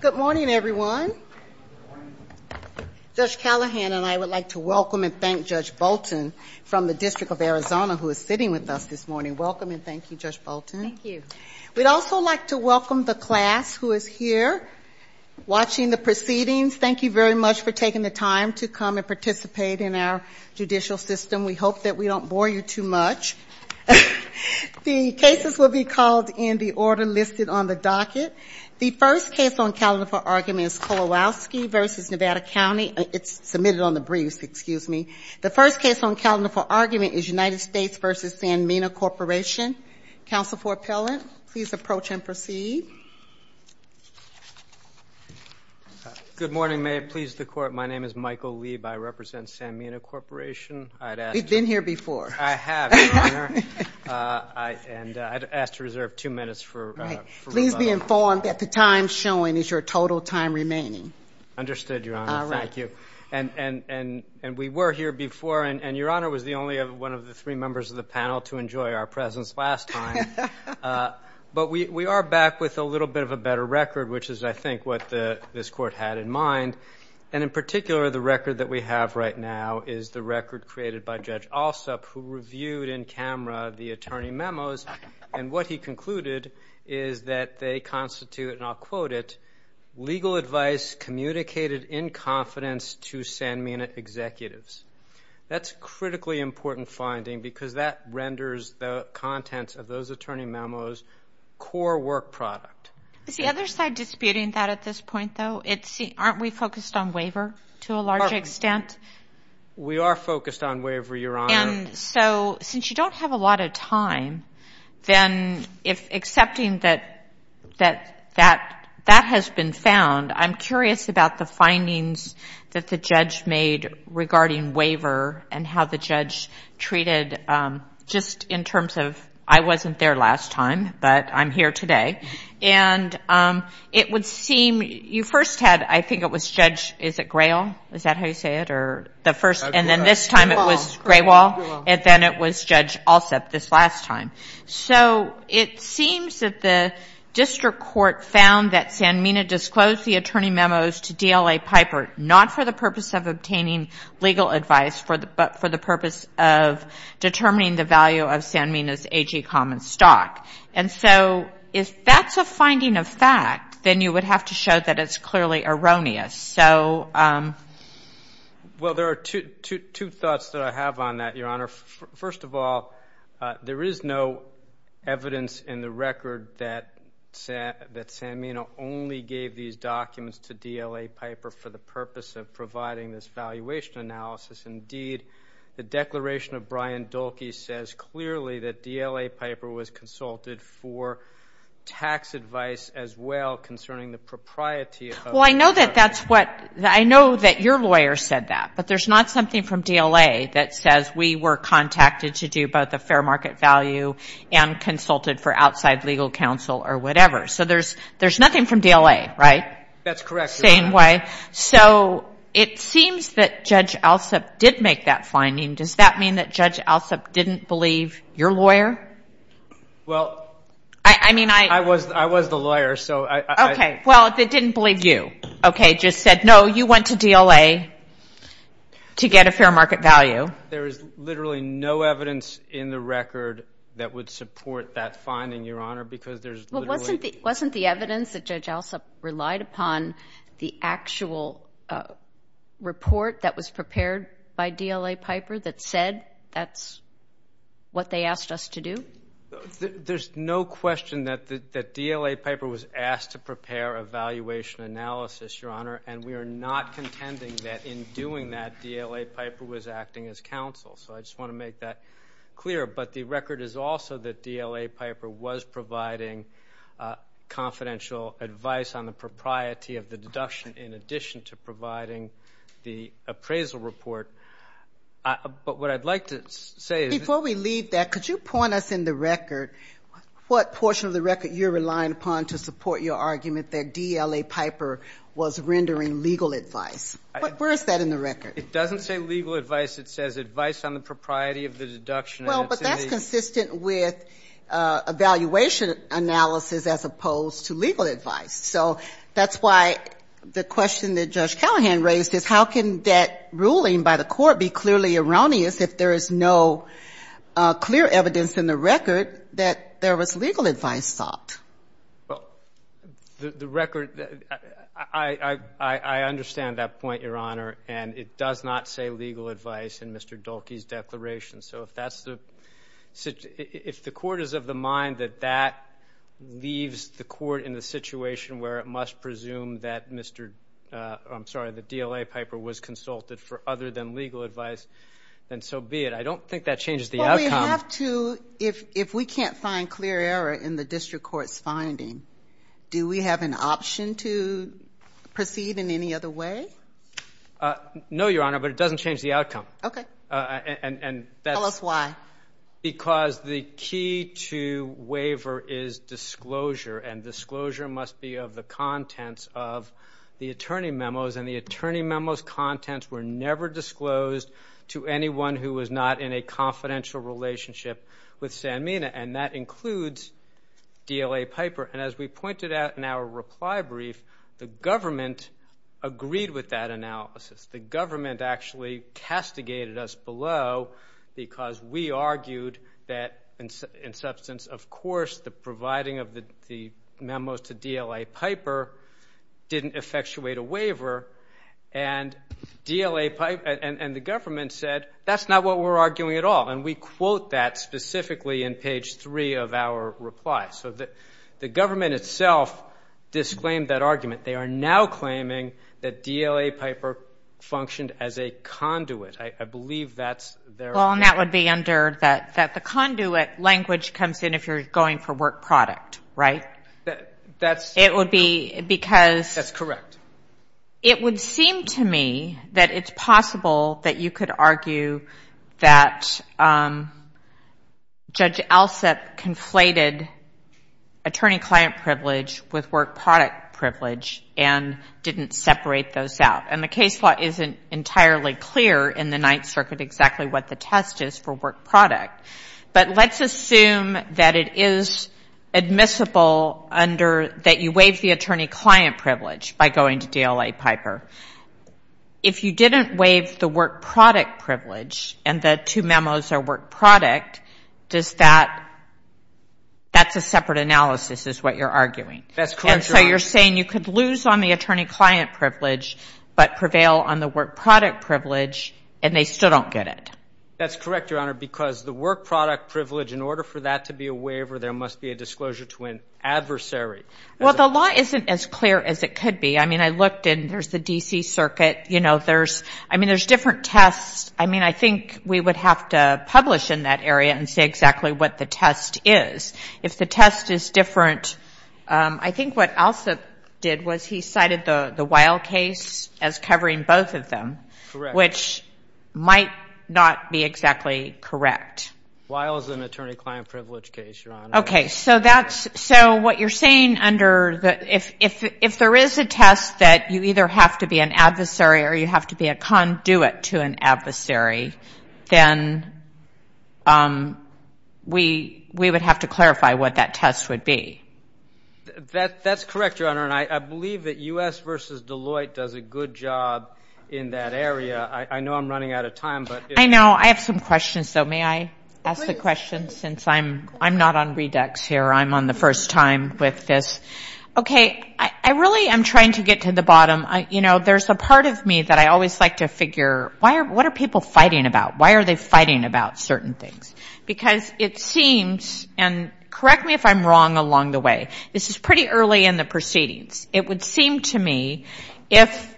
Good morning, everyone. Judge Callahan and I would like to welcome and thank Judge Bolton from the District of Arizona, who is sitting with us this morning. Welcome and thank you, Judge Bolton. Thank you. We'd also like to welcome the class who is here watching the proceedings. Thank you very much for taking the time to come and participate in our judicial system. We hope that we don't bore you too much. The cases will be called in the order listed on the docket. The first case on calendar for argument is Kowalowski v. Nevada County. It's submitted on the briefs. Excuse me. The first case on calendar for argument is United States v. Sanmina Corporation. Counsel for appellant, please approach and proceed. Good morning. May it please the Court, my name is Michael Lieb. I represent Sanmina Corporation. We've been here before. I have, Your Honor, and I'd ask to reserve two minutes for rebuttal. Please be informed that the time shown is your total time remaining. Understood, Your Honor. Thank you. All right. And we were here before, and Your Honor was the only one of the three members of the panel to enjoy our presence last time. But we are back with a little bit of a better record, which is, I think, what this Court had in mind. And in particular, the record that we have right now is the record created by Judge Alsup, who reviewed in camera the attorney memos. And what he concluded is that they constitute, and I'll quote it, legal advice communicated in confidence to Sanmina executives. That's a critically important finding because that renders the contents of those attorney memos core work product. Is the other side disputing that at this point, though? Aren't we focused on waiver to a large extent? We are focused on waiver, Your Honor. And so since you don't have a lot of time, then if accepting that that has been found, I'm curious about the findings that the judge made regarding waiver and how the judge treated just in terms of I wasn't there last time, but I'm here today. And it would seem you first had, I think it was Judge, is it Grayall? Is that how you say it? And then this time it was Grayall, and then it was Judge Alsup this last time. So it seems that the district court found that Sanmina disclosed the attorney memos to DLA Piper, not for the purpose of obtaining legal advice, but for the purpose of determining the value of Sanmina's AG common stock. And so if that's a finding of fact, then you would have to show that it's clearly erroneous. Well, there are two thoughts that I have on that, Your Honor. First of all, there is no evidence in the record that Sanmina only gave these documents to DLA Piper for the purpose of providing this valuation analysis. Indeed, the declaration of Brian Dahlke says clearly that DLA Piper was consulted for tax advice as well concerning the propriety of the property. Well, I know that that's what, I know that your lawyer said that, but there's not something from DLA that says we were contacted to do both a fair market value and consulted for outside legal counsel or whatever. So there's nothing from DLA, right? That's correct, Your Honor. Same way. So it seems that Judge Alsup did make that finding. Does that mean that Judge Alsup didn't believe your lawyer? Well, I was the lawyer, so I — Okay, well, they didn't believe you. Okay, just said, no, you went to DLA to get a fair market value. There is literally no evidence in the record that would support that finding, Your Honor, because there's literally — Well, wasn't the evidence that Judge Alsup relied upon the actual report that was prepared by DLA Piper that said that's what they asked us to do? There's no question that DLA Piper was asked to prepare a valuation analysis, Your Honor, and we are not contending that in doing that DLA Piper was acting as counsel. So I just want to make that clear. But the record is also that DLA Piper was providing confidential advice on the propriety of the deduction in addition to providing the appraisal report. But what I'd like to say is — Before we leave that, could you point us in the record what portion of the record you're relying upon to support your argument that DLA Piper was rendering legal advice? Where is that in the record? It doesn't say legal advice. It says advice on the propriety of the deduction. Well, but that's consistent with a valuation analysis as opposed to legal advice. So that's why the question that Judge Callahan raised is how can that ruling by the court be clearly erroneous if there is no clear evidence in the record that there was legal advice sought? Well, the record — I understand that point, Your Honor, and it does not say legal advice in Mr. Dahlke's declaration. So if that's the — if the court is of the mind that that leaves the court in the situation where it must presume that Mr. — I'm sorry, that DLA Piper was consulted for other than legal advice, then so be it. I don't think that changes the outcome. Well, we have to — if we can't find clear error in the district court's finding, do we have an option to proceed in any other way? No, Your Honor, but it doesn't change the outcome. Okay. And that's — Tell us why. Because the key to waiver is disclosure, and disclosure must be of the contents of the attorney memos, and the attorney memos' contents were never disclosed to anyone who was not in a confidential relationship with Sanmina, and that includes DLA Piper. And as we pointed out in our reply brief, the government agreed with that analysis. The government actually castigated us below because we argued that, in substance, of course, the providing of the memos to DLA Piper didn't effectuate a waiver, and DLA Piper — and the government said, that's not what we're arguing at all, and we quote that specifically in page three of our reply. So the government itself disclaimed that argument. They are now claiming that DLA Piper functioned as a conduit. I believe that's their argument. Well, and that would be under that the conduit language comes in if you're going for work product, right? That's — It would be because — That's correct. It would seem to me that it's possible that you could argue that Judge Alsup conflated attorney-client privilege with work product privilege and didn't separate those out. And the case law isn't entirely clear in the Ninth Circuit exactly what the test is for work product. But let's assume that it is admissible under — that you waive the attorney-client privilege by going to DLA Piper. If you didn't waive the work product privilege and the two memos are work product, does that — that's a separate analysis is what you're arguing. That's correct, Your Honor. And so you're saying you could lose on the attorney-client privilege but prevail on the work product privilege and they still don't get it. That's correct, Your Honor, because the work product privilege, in order for that to be a waiver there must be a disclosure to an adversary. Well, the law isn't as clear as it could be. I mean, I looked and there's the D.C. Circuit. You know, there's — I mean, there's different tests. I mean, I think we would have to publish in that area and say exactly what the test is. If the test is different, I think what Alsup did was he cited the Weil case as covering both of them. Correct. Which might not be exactly correct. Weil is an attorney-client privilege case, Your Honor. Okay, so that's — so what you're saying under the — if there is a test that you either have to be an adversary or you have to be a conduit to an adversary, then we would have to clarify what that test would be. That's correct, Your Honor, and I believe that U.S. v. Deloitte does a good job in that area. I know I'm running out of time, but — I know. I have some questions, though. May I ask a question since I'm not on Redux here? I'm on the first time with this. Okay, I really am trying to get to the bottom. You know, there's a part of me that I always like to figure, what are people fighting about? Why are they fighting about certain things? Because it seems — and correct me if I'm wrong along the way. This is pretty early in the proceedings. It would seem to me if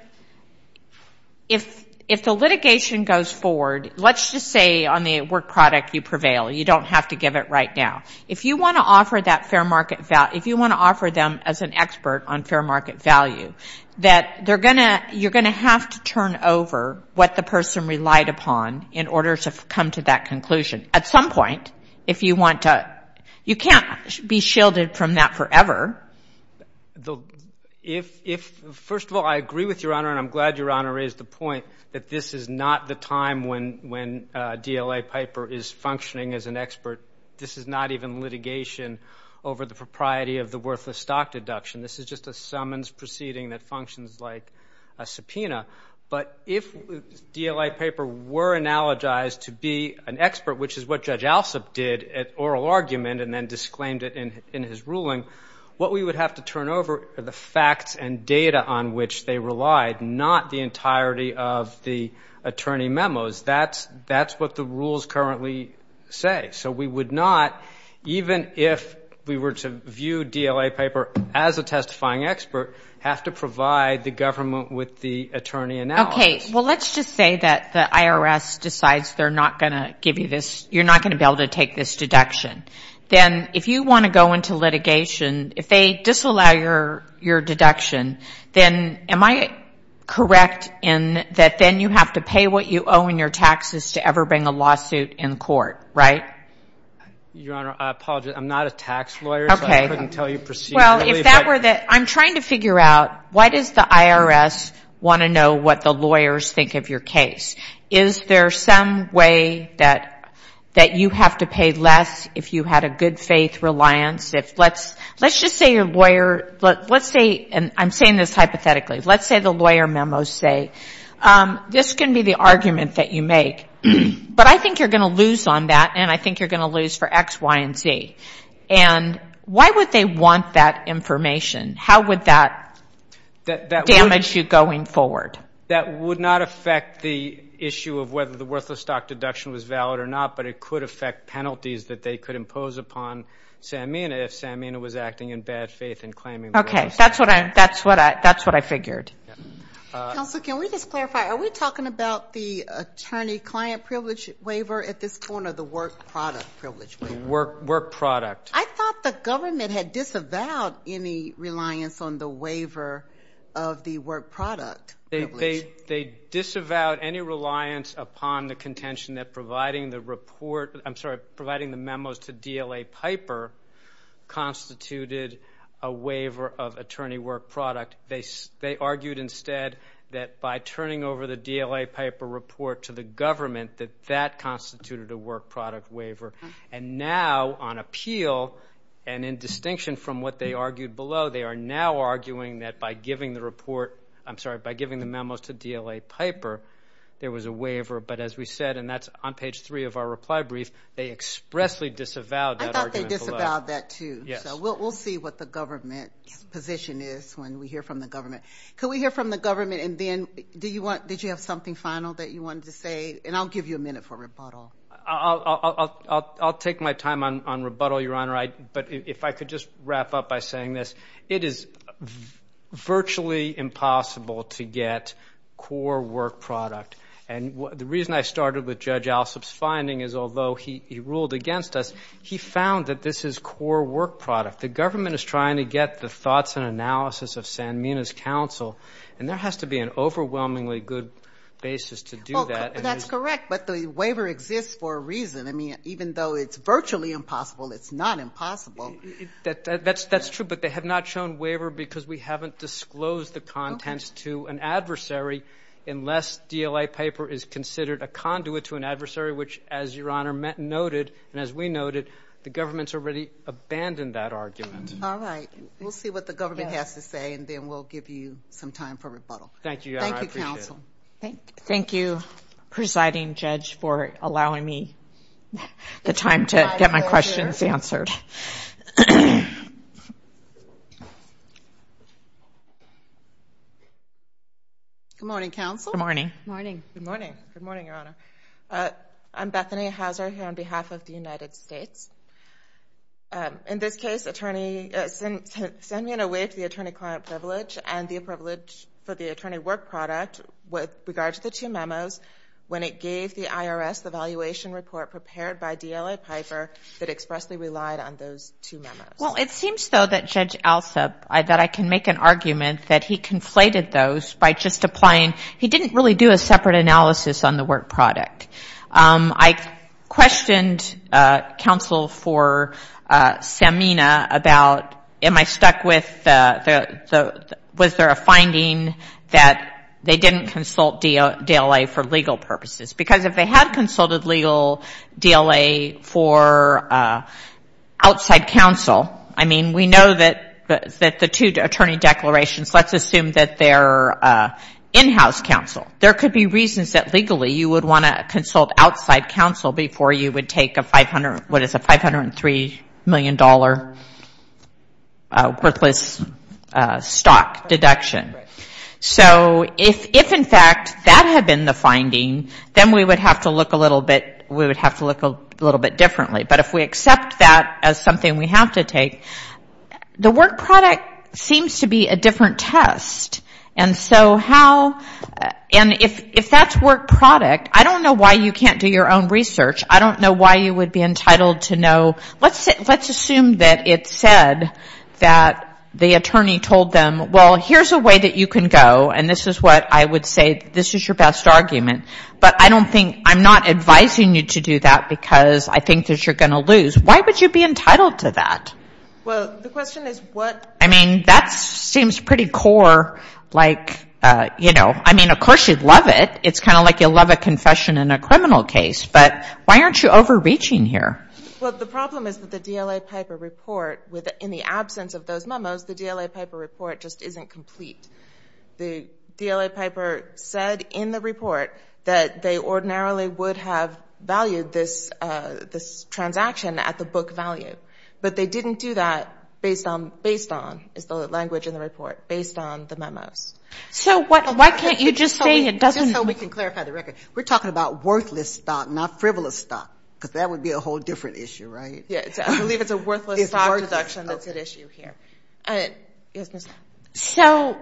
the litigation goes forward, let's just say on the work product you prevail. You don't have to give it right now. If you want to offer that fair market — if you want to offer them as an expert on fair market value, that they're going to — you're going to have to turn over what the person relied upon in order to come to that conclusion. At some point, if you want to — you can't be shielded from that forever. If — first of all, I agree with Your Honor, and I'm glad Your Honor raised the point that this is not the time when DLA Piper is functioning as an expert. This is not even litigation over the propriety of the worthless stock deduction. This is just a summons proceeding that functions like a subpoena. But if DLA Piper were analogized to be an expert, which is what Judge Alsup did at oral argument and then disclaimed it in his ruling, what we would have to turn over are the facts and data on which they relied, not the entirety of the attorney memos. That's what the rules currently say. So we would not, even if we were to view DLA Piper as a testifying expert, have to provide the government with the attorney analysis. Okay. Well, let's just say that the IRS decides they're not going to give you this — you're not going to be able to take this deduction. Then if you want to go into litigation, if they disallow your deduction, then am I correct in that then you have to pay what you owe in your taxes to ever bring a lawsuit in court, right? Your Honor, I apologize. I'm not a tax lawyer, so I couldn't tell you procedurally. Well, if that were the — I'm trying to figure out, why does the IRS want to know what the lawyers think of your case? Is there some way that you have to pay less if you had a good faith reliance? Let's just say your lawyer — let's say — and I'm saying this hypothetically. Let's say the lawyer memos say, this can be the argument that you make, but I think you're going to lose on that, and I think you're going to lose for X, Y, and Z. And why would they want that information? How would that damage you going forward? That would not affect the issue of whether the worthless stock deduction was valid or not, but it could affect penalties that they could impose upon Samina if Samina was acting in bad faith and claiming — Okay. That's what I figured. Counsel, can we just clarify? Are we talking about the attorney-client privilege waiver at this point or the work product privilege waiver? Work product. I thought the government had disavowed any reliance on the waiver of the work product privilege. They disavowed any reliance upon the contention that providing the report — I'm sorry, providing the memos to DLA Piper constituted a waiver of attorney work product. They argued instead that by turning over the DLA Piper report to the government, that that constituted a work product waiver. And now on appeal, and in distinction from what they argued below, they are now arguing that by giving the report — I'm sorry, by giving the memos to DLA Piper, there was a waiver. But as we said, and that's on page three of our reply brief, they expressly disavowed that argument below. I thought they disavowed that, too. Yes. So we'll see what the government's position is when we hear from the government. Could we hear from the government? And then did you have something final that you wanted to say? And I'll give you a minute for rebuttal. I'll take my time on rebuttal, Your Honor. But if I could just wrap up by saying this. It is virtually impossible to get core work product. And the reason I started with Judge Alsop's finding is although he ruled against us, he found that this is core work product. The government is trying to get the thoughts and analysis of Sanmina's counsel, and there has to be an overwhelmingly good basis to do that. I mean, even though it's virtually impossible, it's not impossible. That's true. But they have not shown waiver because we haven't disclosed the contents to an adversary unless DLA Piper is considered a conduit to an adversary, which, as Your Honor noted, and as we noted, the government's already abandoned that argument. All right. We'll see what the government has to say, and then we'll give you some time for rebuttal. Thank you, Your Honor. I appreciate it. Thank you, counsel. The time to get my questions answered. Good morning, counsel. Good morning. Good morning. Good morning, Your Honor. I'm Bethany Hauser here on behalf of the United States. In this case, send me an away to the attorney client privilege and the privilege for the attorney work product with regard to the two memos when it gave the IRS the valuation report prepared by DLA Piper that expressly relied on those two memos. Well, it seems, though, that Judge Alsup, that I can make an argument that he conflated those by just applying he didn't really do a separate analysis on the work product. I questioned counsel for Samina about am I stuck with was there a finding that they didn't consult DLA for legal purposes? Because if they had consulted legal DLA for outside counsel, I mean, we know that the two attorney declarations, let's assume that they're in-house counsel. There could be reasons that legally you would want to consult outside counsel before you would take a $503 million worthless stock deduction. So if, in fact, that had been the finding, then we would have to look a little bit differently. But if we accept that as something we have to take, the work product seems to be a different test. And so how, and if that's work product, I don't know why you can't do your own research. I don't know why you would be entitled to know, let's assume that it said that the attorney told them, well, here's a way that you can go, and this is what I would say, this is your best argument. But I don't think, I'm not advising you to do that because I think that you're going to lose. Why would you be entitled to that? Like, you know, I mean, of course you'd love it. It's kind of like you'll love a confession in a criminal case, but why aren't you overreaching here? Well, the problem is that the DLA Piper report, in the absence of those memos, the DLA Piper report just isn't complete. The DLA Piper said in the report that they ordinarily would have valued this transaction at the book value. But they didn't do that based on, is the language in the report, based on the memos. So why can't you just say it doesn't? We're talking about worthless stock, not frivolous stock, because that would be a whole different issue, right? So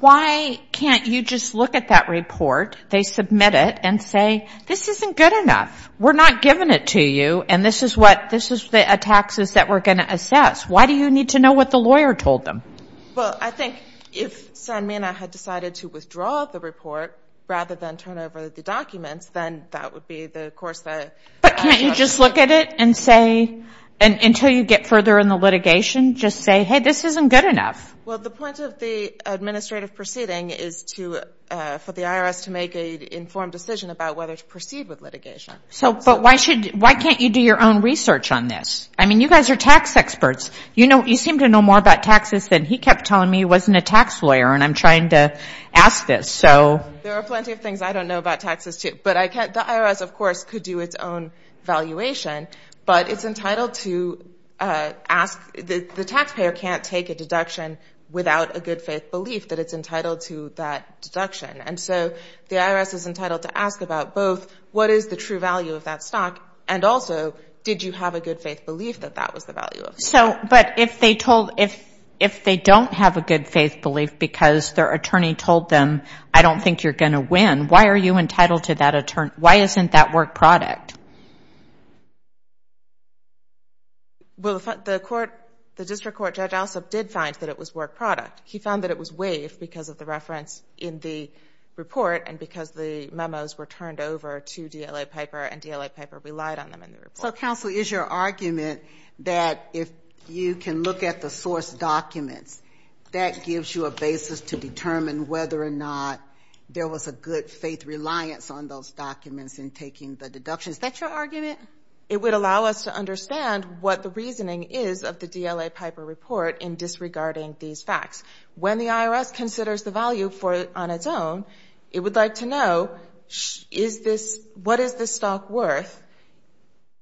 why can't you just look at that report, they submit it, and say, this isn't good enough. We're not giving it to you, and this is what, this is the taxes that we're going to assess. Why do you need to know what the lawyer told them? Well, I think if Sanmina had decided to withdraw the report rather than turn over the documents, then that would be the course of action. But can't you just look at it and say, and until you get further in the litigation, just say, hey, this isn't good enough? Well, the point of the administrative proceeding is to, for the IRS to make an informed decision about whether to proceed with litigation. But why can't you do your own research on this? I mean, you guys are tax experts. You seem to know more about taxes than he kept telling me he wasn't a tax lawyer, and I'm trying to ask this. There are plenty of things I don't know about taxes, too. But the IRS, of course, could do its own valuation, but it's entitled to ask, the taxpayer can't take a deduction without a good faith belief that it's entitled to that deduction. And so the IRS is entitled to ask about both, what is the true value of that stock, and also, did you have a good faith belief that that was the value of that stock? So, but if they told, if they don't have a good faith belief because their attorney told them, I don't think you're going to win, why are you entitled to that, why isn't that work product? Well, the court, the district court, Judge Alsop did find that it was work product. He found that it was waived because of the reference in the report, and because the memos were turned over to DLA Piper, and DLA Piper relied on them in the report. So, counsel, is your argument that if you can look at the source documents, that gives you a basis to determine whether or not there was a good faith reliance on those documents in taking the deductions? Is that your argument? When the IRS considers the value on its own, it would like to know, is this, what is this stock worth?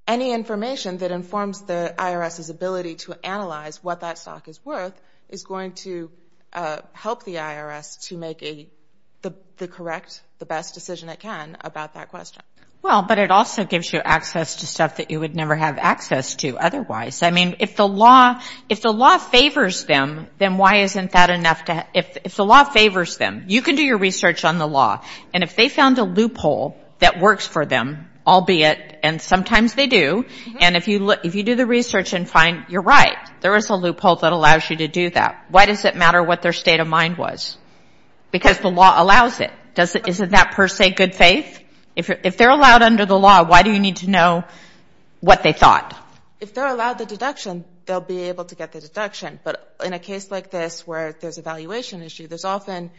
Any information that informs the IRS's ability to analyze what that stock is worth is going to help the IRS to make the correct, the best decision it can about that question. Well, but it also gives you access to stuff that you would never have access to otherwise. I mean, if the law favors them, then why isn't that enough to, if the law favors them, you can do your research on the law. And if they found a loophole that works for them, albeit, and sometimes they do, and if you do the research and find, you're right, there is a loophole that allows you to do that. Why does it matter what their state of mind was? Because the law allows it. Isn't that per se good faith? If they're allowed under the law, why do you need to know what they thought? If they're allowed the deduction, they'll be able to get the deduction. But in a case like this where there's a valuation issue, there's often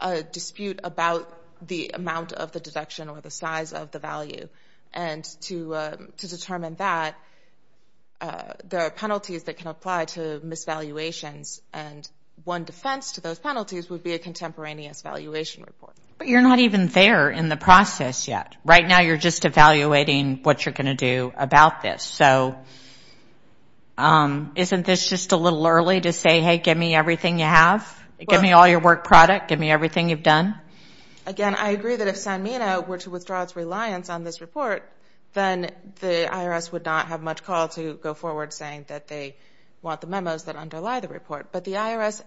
a dispute about the amount of the deduction or the size of the value. And to determine that, there are penalties that can apply to misvaluations. And one defense to those penalties would be a contemporaneous valuation report. But you're not even there in the process yet. So isn't this just a little early to say, hey, give me everything you have? Give me all your work product. Give me everything you've done. Again, I agree that if Sanmina were to withdraw its reliance on this report, then the IRS would not have much call to go forward saying that they want the memos that underlie the report. But the IRS,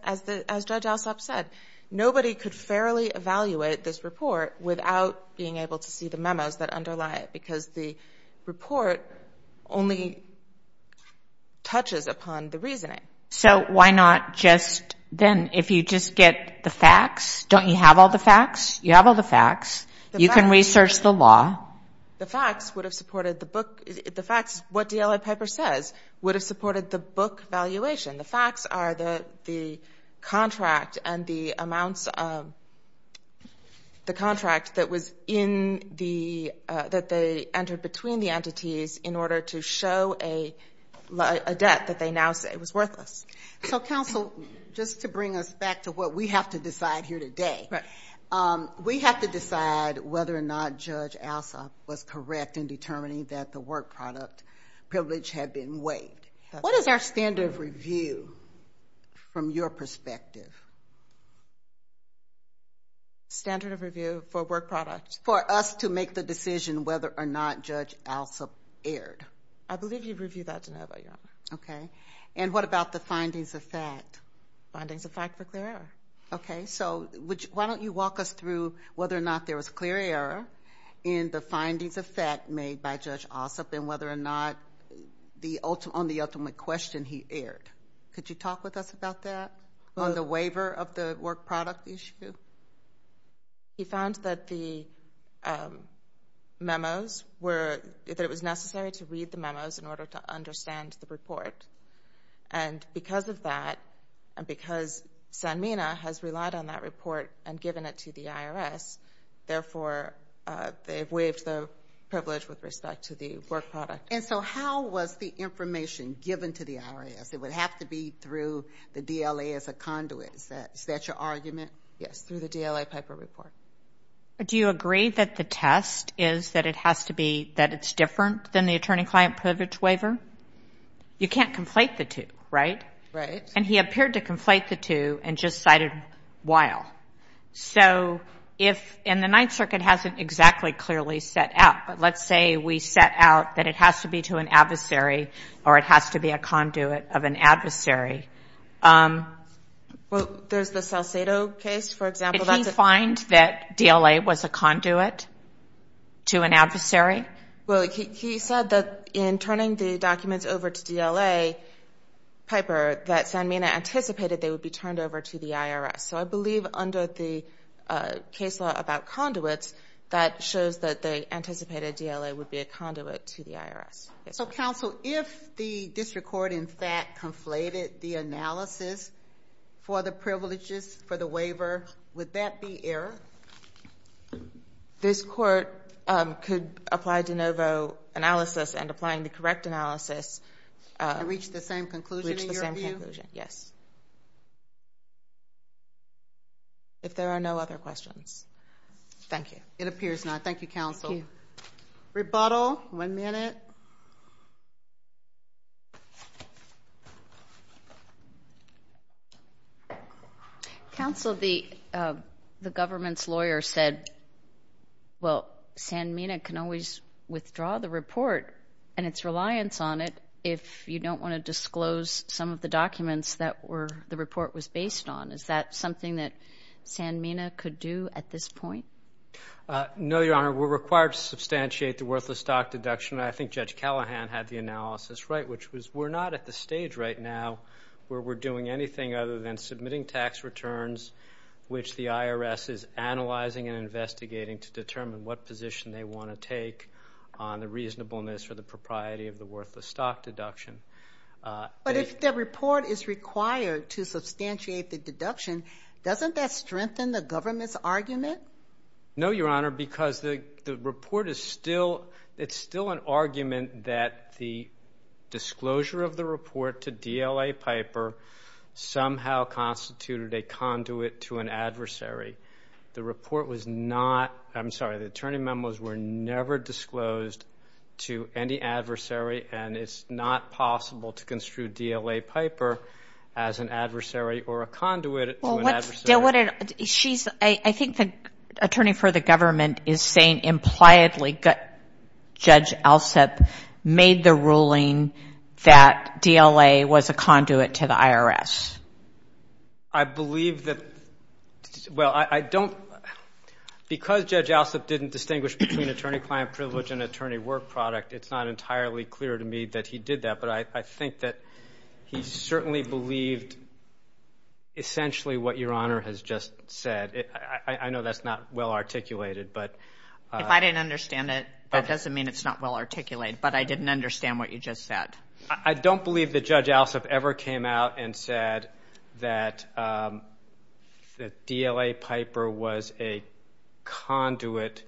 as Judge Alsop said, nobody could fairly evaluate this report without being able to see the memos that underlie it. Because the report only touches upon the reasoning. So why not just then, if you just get the facts, don't you have all the facts? You have all the facts. You can research the law. The facts would have supported the book. The facts, what DLA Piper says, would have supported the book valuation. The facts are the contract and the amounts of the contract that was in the, that they entered between the entities in order to show a debt that they now say was worthless. So, counsel, just to bring us back to what we have to decide here today. We have to decide whether or not Judge Alsop was correct in determining that the work product privilege had been waived. What is our standard of review from your perspective? Standard of review for work product. For us to make the decision whether or not Judge Alsop erred. I believe you've reviewed that to know about, Your Honor. Okay. And what about the findings of fact? Findings of fact for clear error. Okay. So why don't you walk us through whether or not there was clear error in the findings of fact made by Judge Alsop and whether or not on the ultimate question he erred. Could you talk with us about that on the waiver of the work product issue? He found that the memos were, that it was necessary to read the memos in order to understand the report. And because of that, and because Sanmina has relied on that report and given it to the IRS, therefore they've waived the privilege with respect to the work product. And so how was the information given to the IRS? It would have to be through the DLA as a conduit. Is that your argument? Yes, through the DLA Piper report. Do you agree that the test is that it has to be, that it's different than the attorney-client privilege waiver? You can't conflate the two, right? Right. And he appeared to conflate the two and just cited while. So if, and the Ninth Circuit hasn't exactly clearly set out, but let's say we set out that it has to be to an adversary or it has to be a conduit of an adversary. Did he say that DLA was a conduit to an adversary? Well, he said that in turning the documents over to DLA Piper, that Sanmina anticipated they would be turned over to the IRS. So I believe under the case law about conduits, that shows that they anticipated DLA would be a conduit to the IRS. So counsel, if the district court in fact conflated the analysis for the privileges for the waiver, would that be error? This court could apply de novo analysis and applying the correct analysis. And reach the same conclusion in your view? Reach the same conclusion, yes. If there are no other questions. Thank you. It appears not. Thank you, counsel. Rebuttal. One minute. Counsel, the government's lawyer said, well, Sanmina can always withdraw the report and its reliance on it if you don't want to disclose some of the documents that the report was based on. Is that something that Sanmina could do at this point? No, Your Honor. We're required to substantiate the worthless stock deduction. I think Judge Callahan had the analysis right, which was we're not at the stage right now where we're doing anything other than submitting tax returns, which the IRS is analyzing and investigating to determine what position they want to take on the reasonableness or the propriety of the worthless stock deduction. But if the report is required to substantiate the deduction, doesn't that strengthen the government's argument? No, Your Honor, because the report is still an argument that the disclosure of the report to DLA Piper somehow constituted a conduit to an adversary. The report was not, I'm sorry, the attorney memos were never disclosed to any adversary, and it's not possible to construe DLA Piper as an adversary or a conduit. I think the attorney for the government is saying impliedly Judge Alsup made the ruling that DLA was a conduit to the IRS. I believe that, well, I don't, because Judge Alsup didn't distinguish between attorney-client privilege and attorney-work product, it's not entirely clear to me that he did that. But I think that he certainly believed essentially what Your Honor has just said. I know that's not well articulated, but... If I didn't understand it, that doesn't mean it's not well articulated, but I didn't understand what you just said. I don't believe that Judge Alsup ever came out and said that DLA Piper was a conduit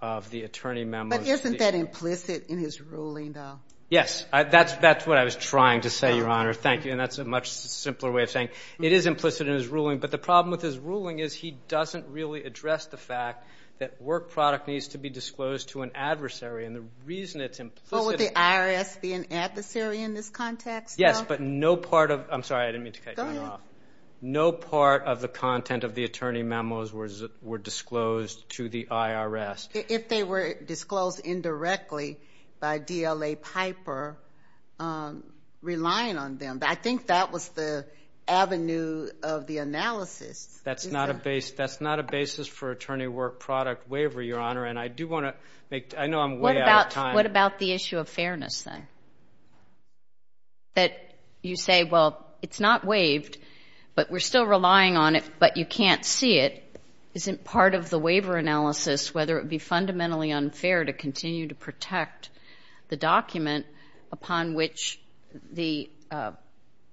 of the attorney memos. Isn't that implicit in his ruling, though? Yes, that's what I was trying to say, Your Honor, thank you, and that's a much simpler way of saying it is implicit in his ruling, but the problem with his ruling is he doesn't really address the fact that work product needs to be disclosed to an adversary, and the reason it's implicit... Well, would the IRS be an adversary in this context, though? Yes, but no part of... I'm sorry, I didn't mean to cut you off. Go ahead. No part of the content of the attorney memos were disclosed to the IRS. If they were disclosed indirectly by DLA Piper, relying on them, I think that was the avenue of the analysis. That's not a basis for attorney work product waiver, Your Honor, and I do want to make, I know I'm way out of time. What about the issue of fairness, then? That you say, well, it's not waived, but we're still relying on it, but you can't see it, isn't part of the waiver analysis whether it would be fundamentally unfair to continue to protect the document upon which the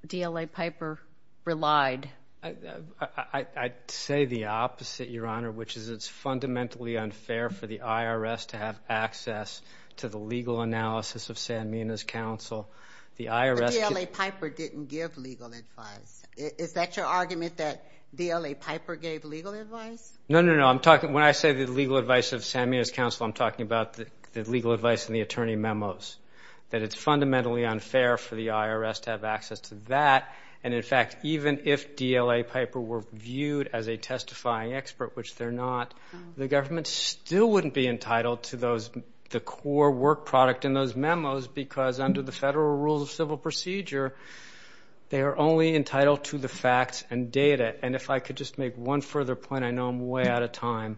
DLA Piper relied. I'd say the opposite, Your Honor, which is it's fundamentally unfair for the IRS to have access to the legal analysis of Sanmina's counsel. But DLA Piper didn't give legal advice. Is that your argument, that DLA Piper gave legal advice? No, no, no, when I say the legal advice of Sanmina's counsel, I'm talking about the legal advice in the attorney memos, that it's fundamentally unfair for the IRS to have access to that, and in fact, even if DLA Piper were viewed as a testifying expert, which they're not, the government still wouldn't be entitled to the core work product in those memos, because under the federal rules of civil procedure, they are only entitled to the facts and data. And if I could just make one further point, I know I'm way out of time.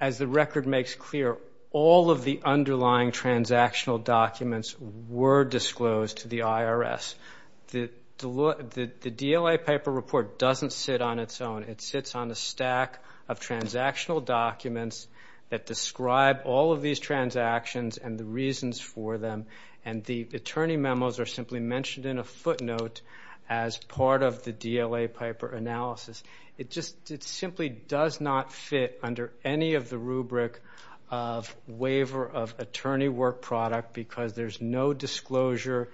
As the record makes clear, all of the underlying transactional documents were disclosed to the IRS. The DLA Piper report doesn't sit on its own. It sits on a stack of transactional documents that describe all of these transactions and the reasons for them, and the attorney memos are simply mentioned in a footnote as part of the DLA Piper analysis. It simply does not fit under any of the rubric of waiver of attorney work product, because there's no disclosure,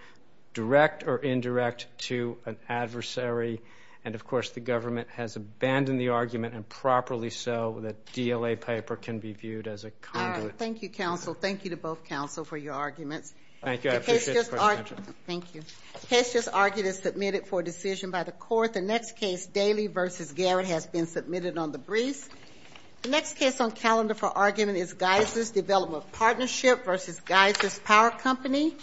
direct or indirect, to an adversary, and of course the government has abandoned the argument, and properly so, that DLA Piper can be viewed as a conduit. Thank you, counsel. Thank you to both counsel for your arguments. The case just argued is submitted for decision by the court. The next case, Daly v. Garrett, has been submitted on the briefs. The next case on calendar for argument is Geiser's Development Partnership v. Geiser's Power Company.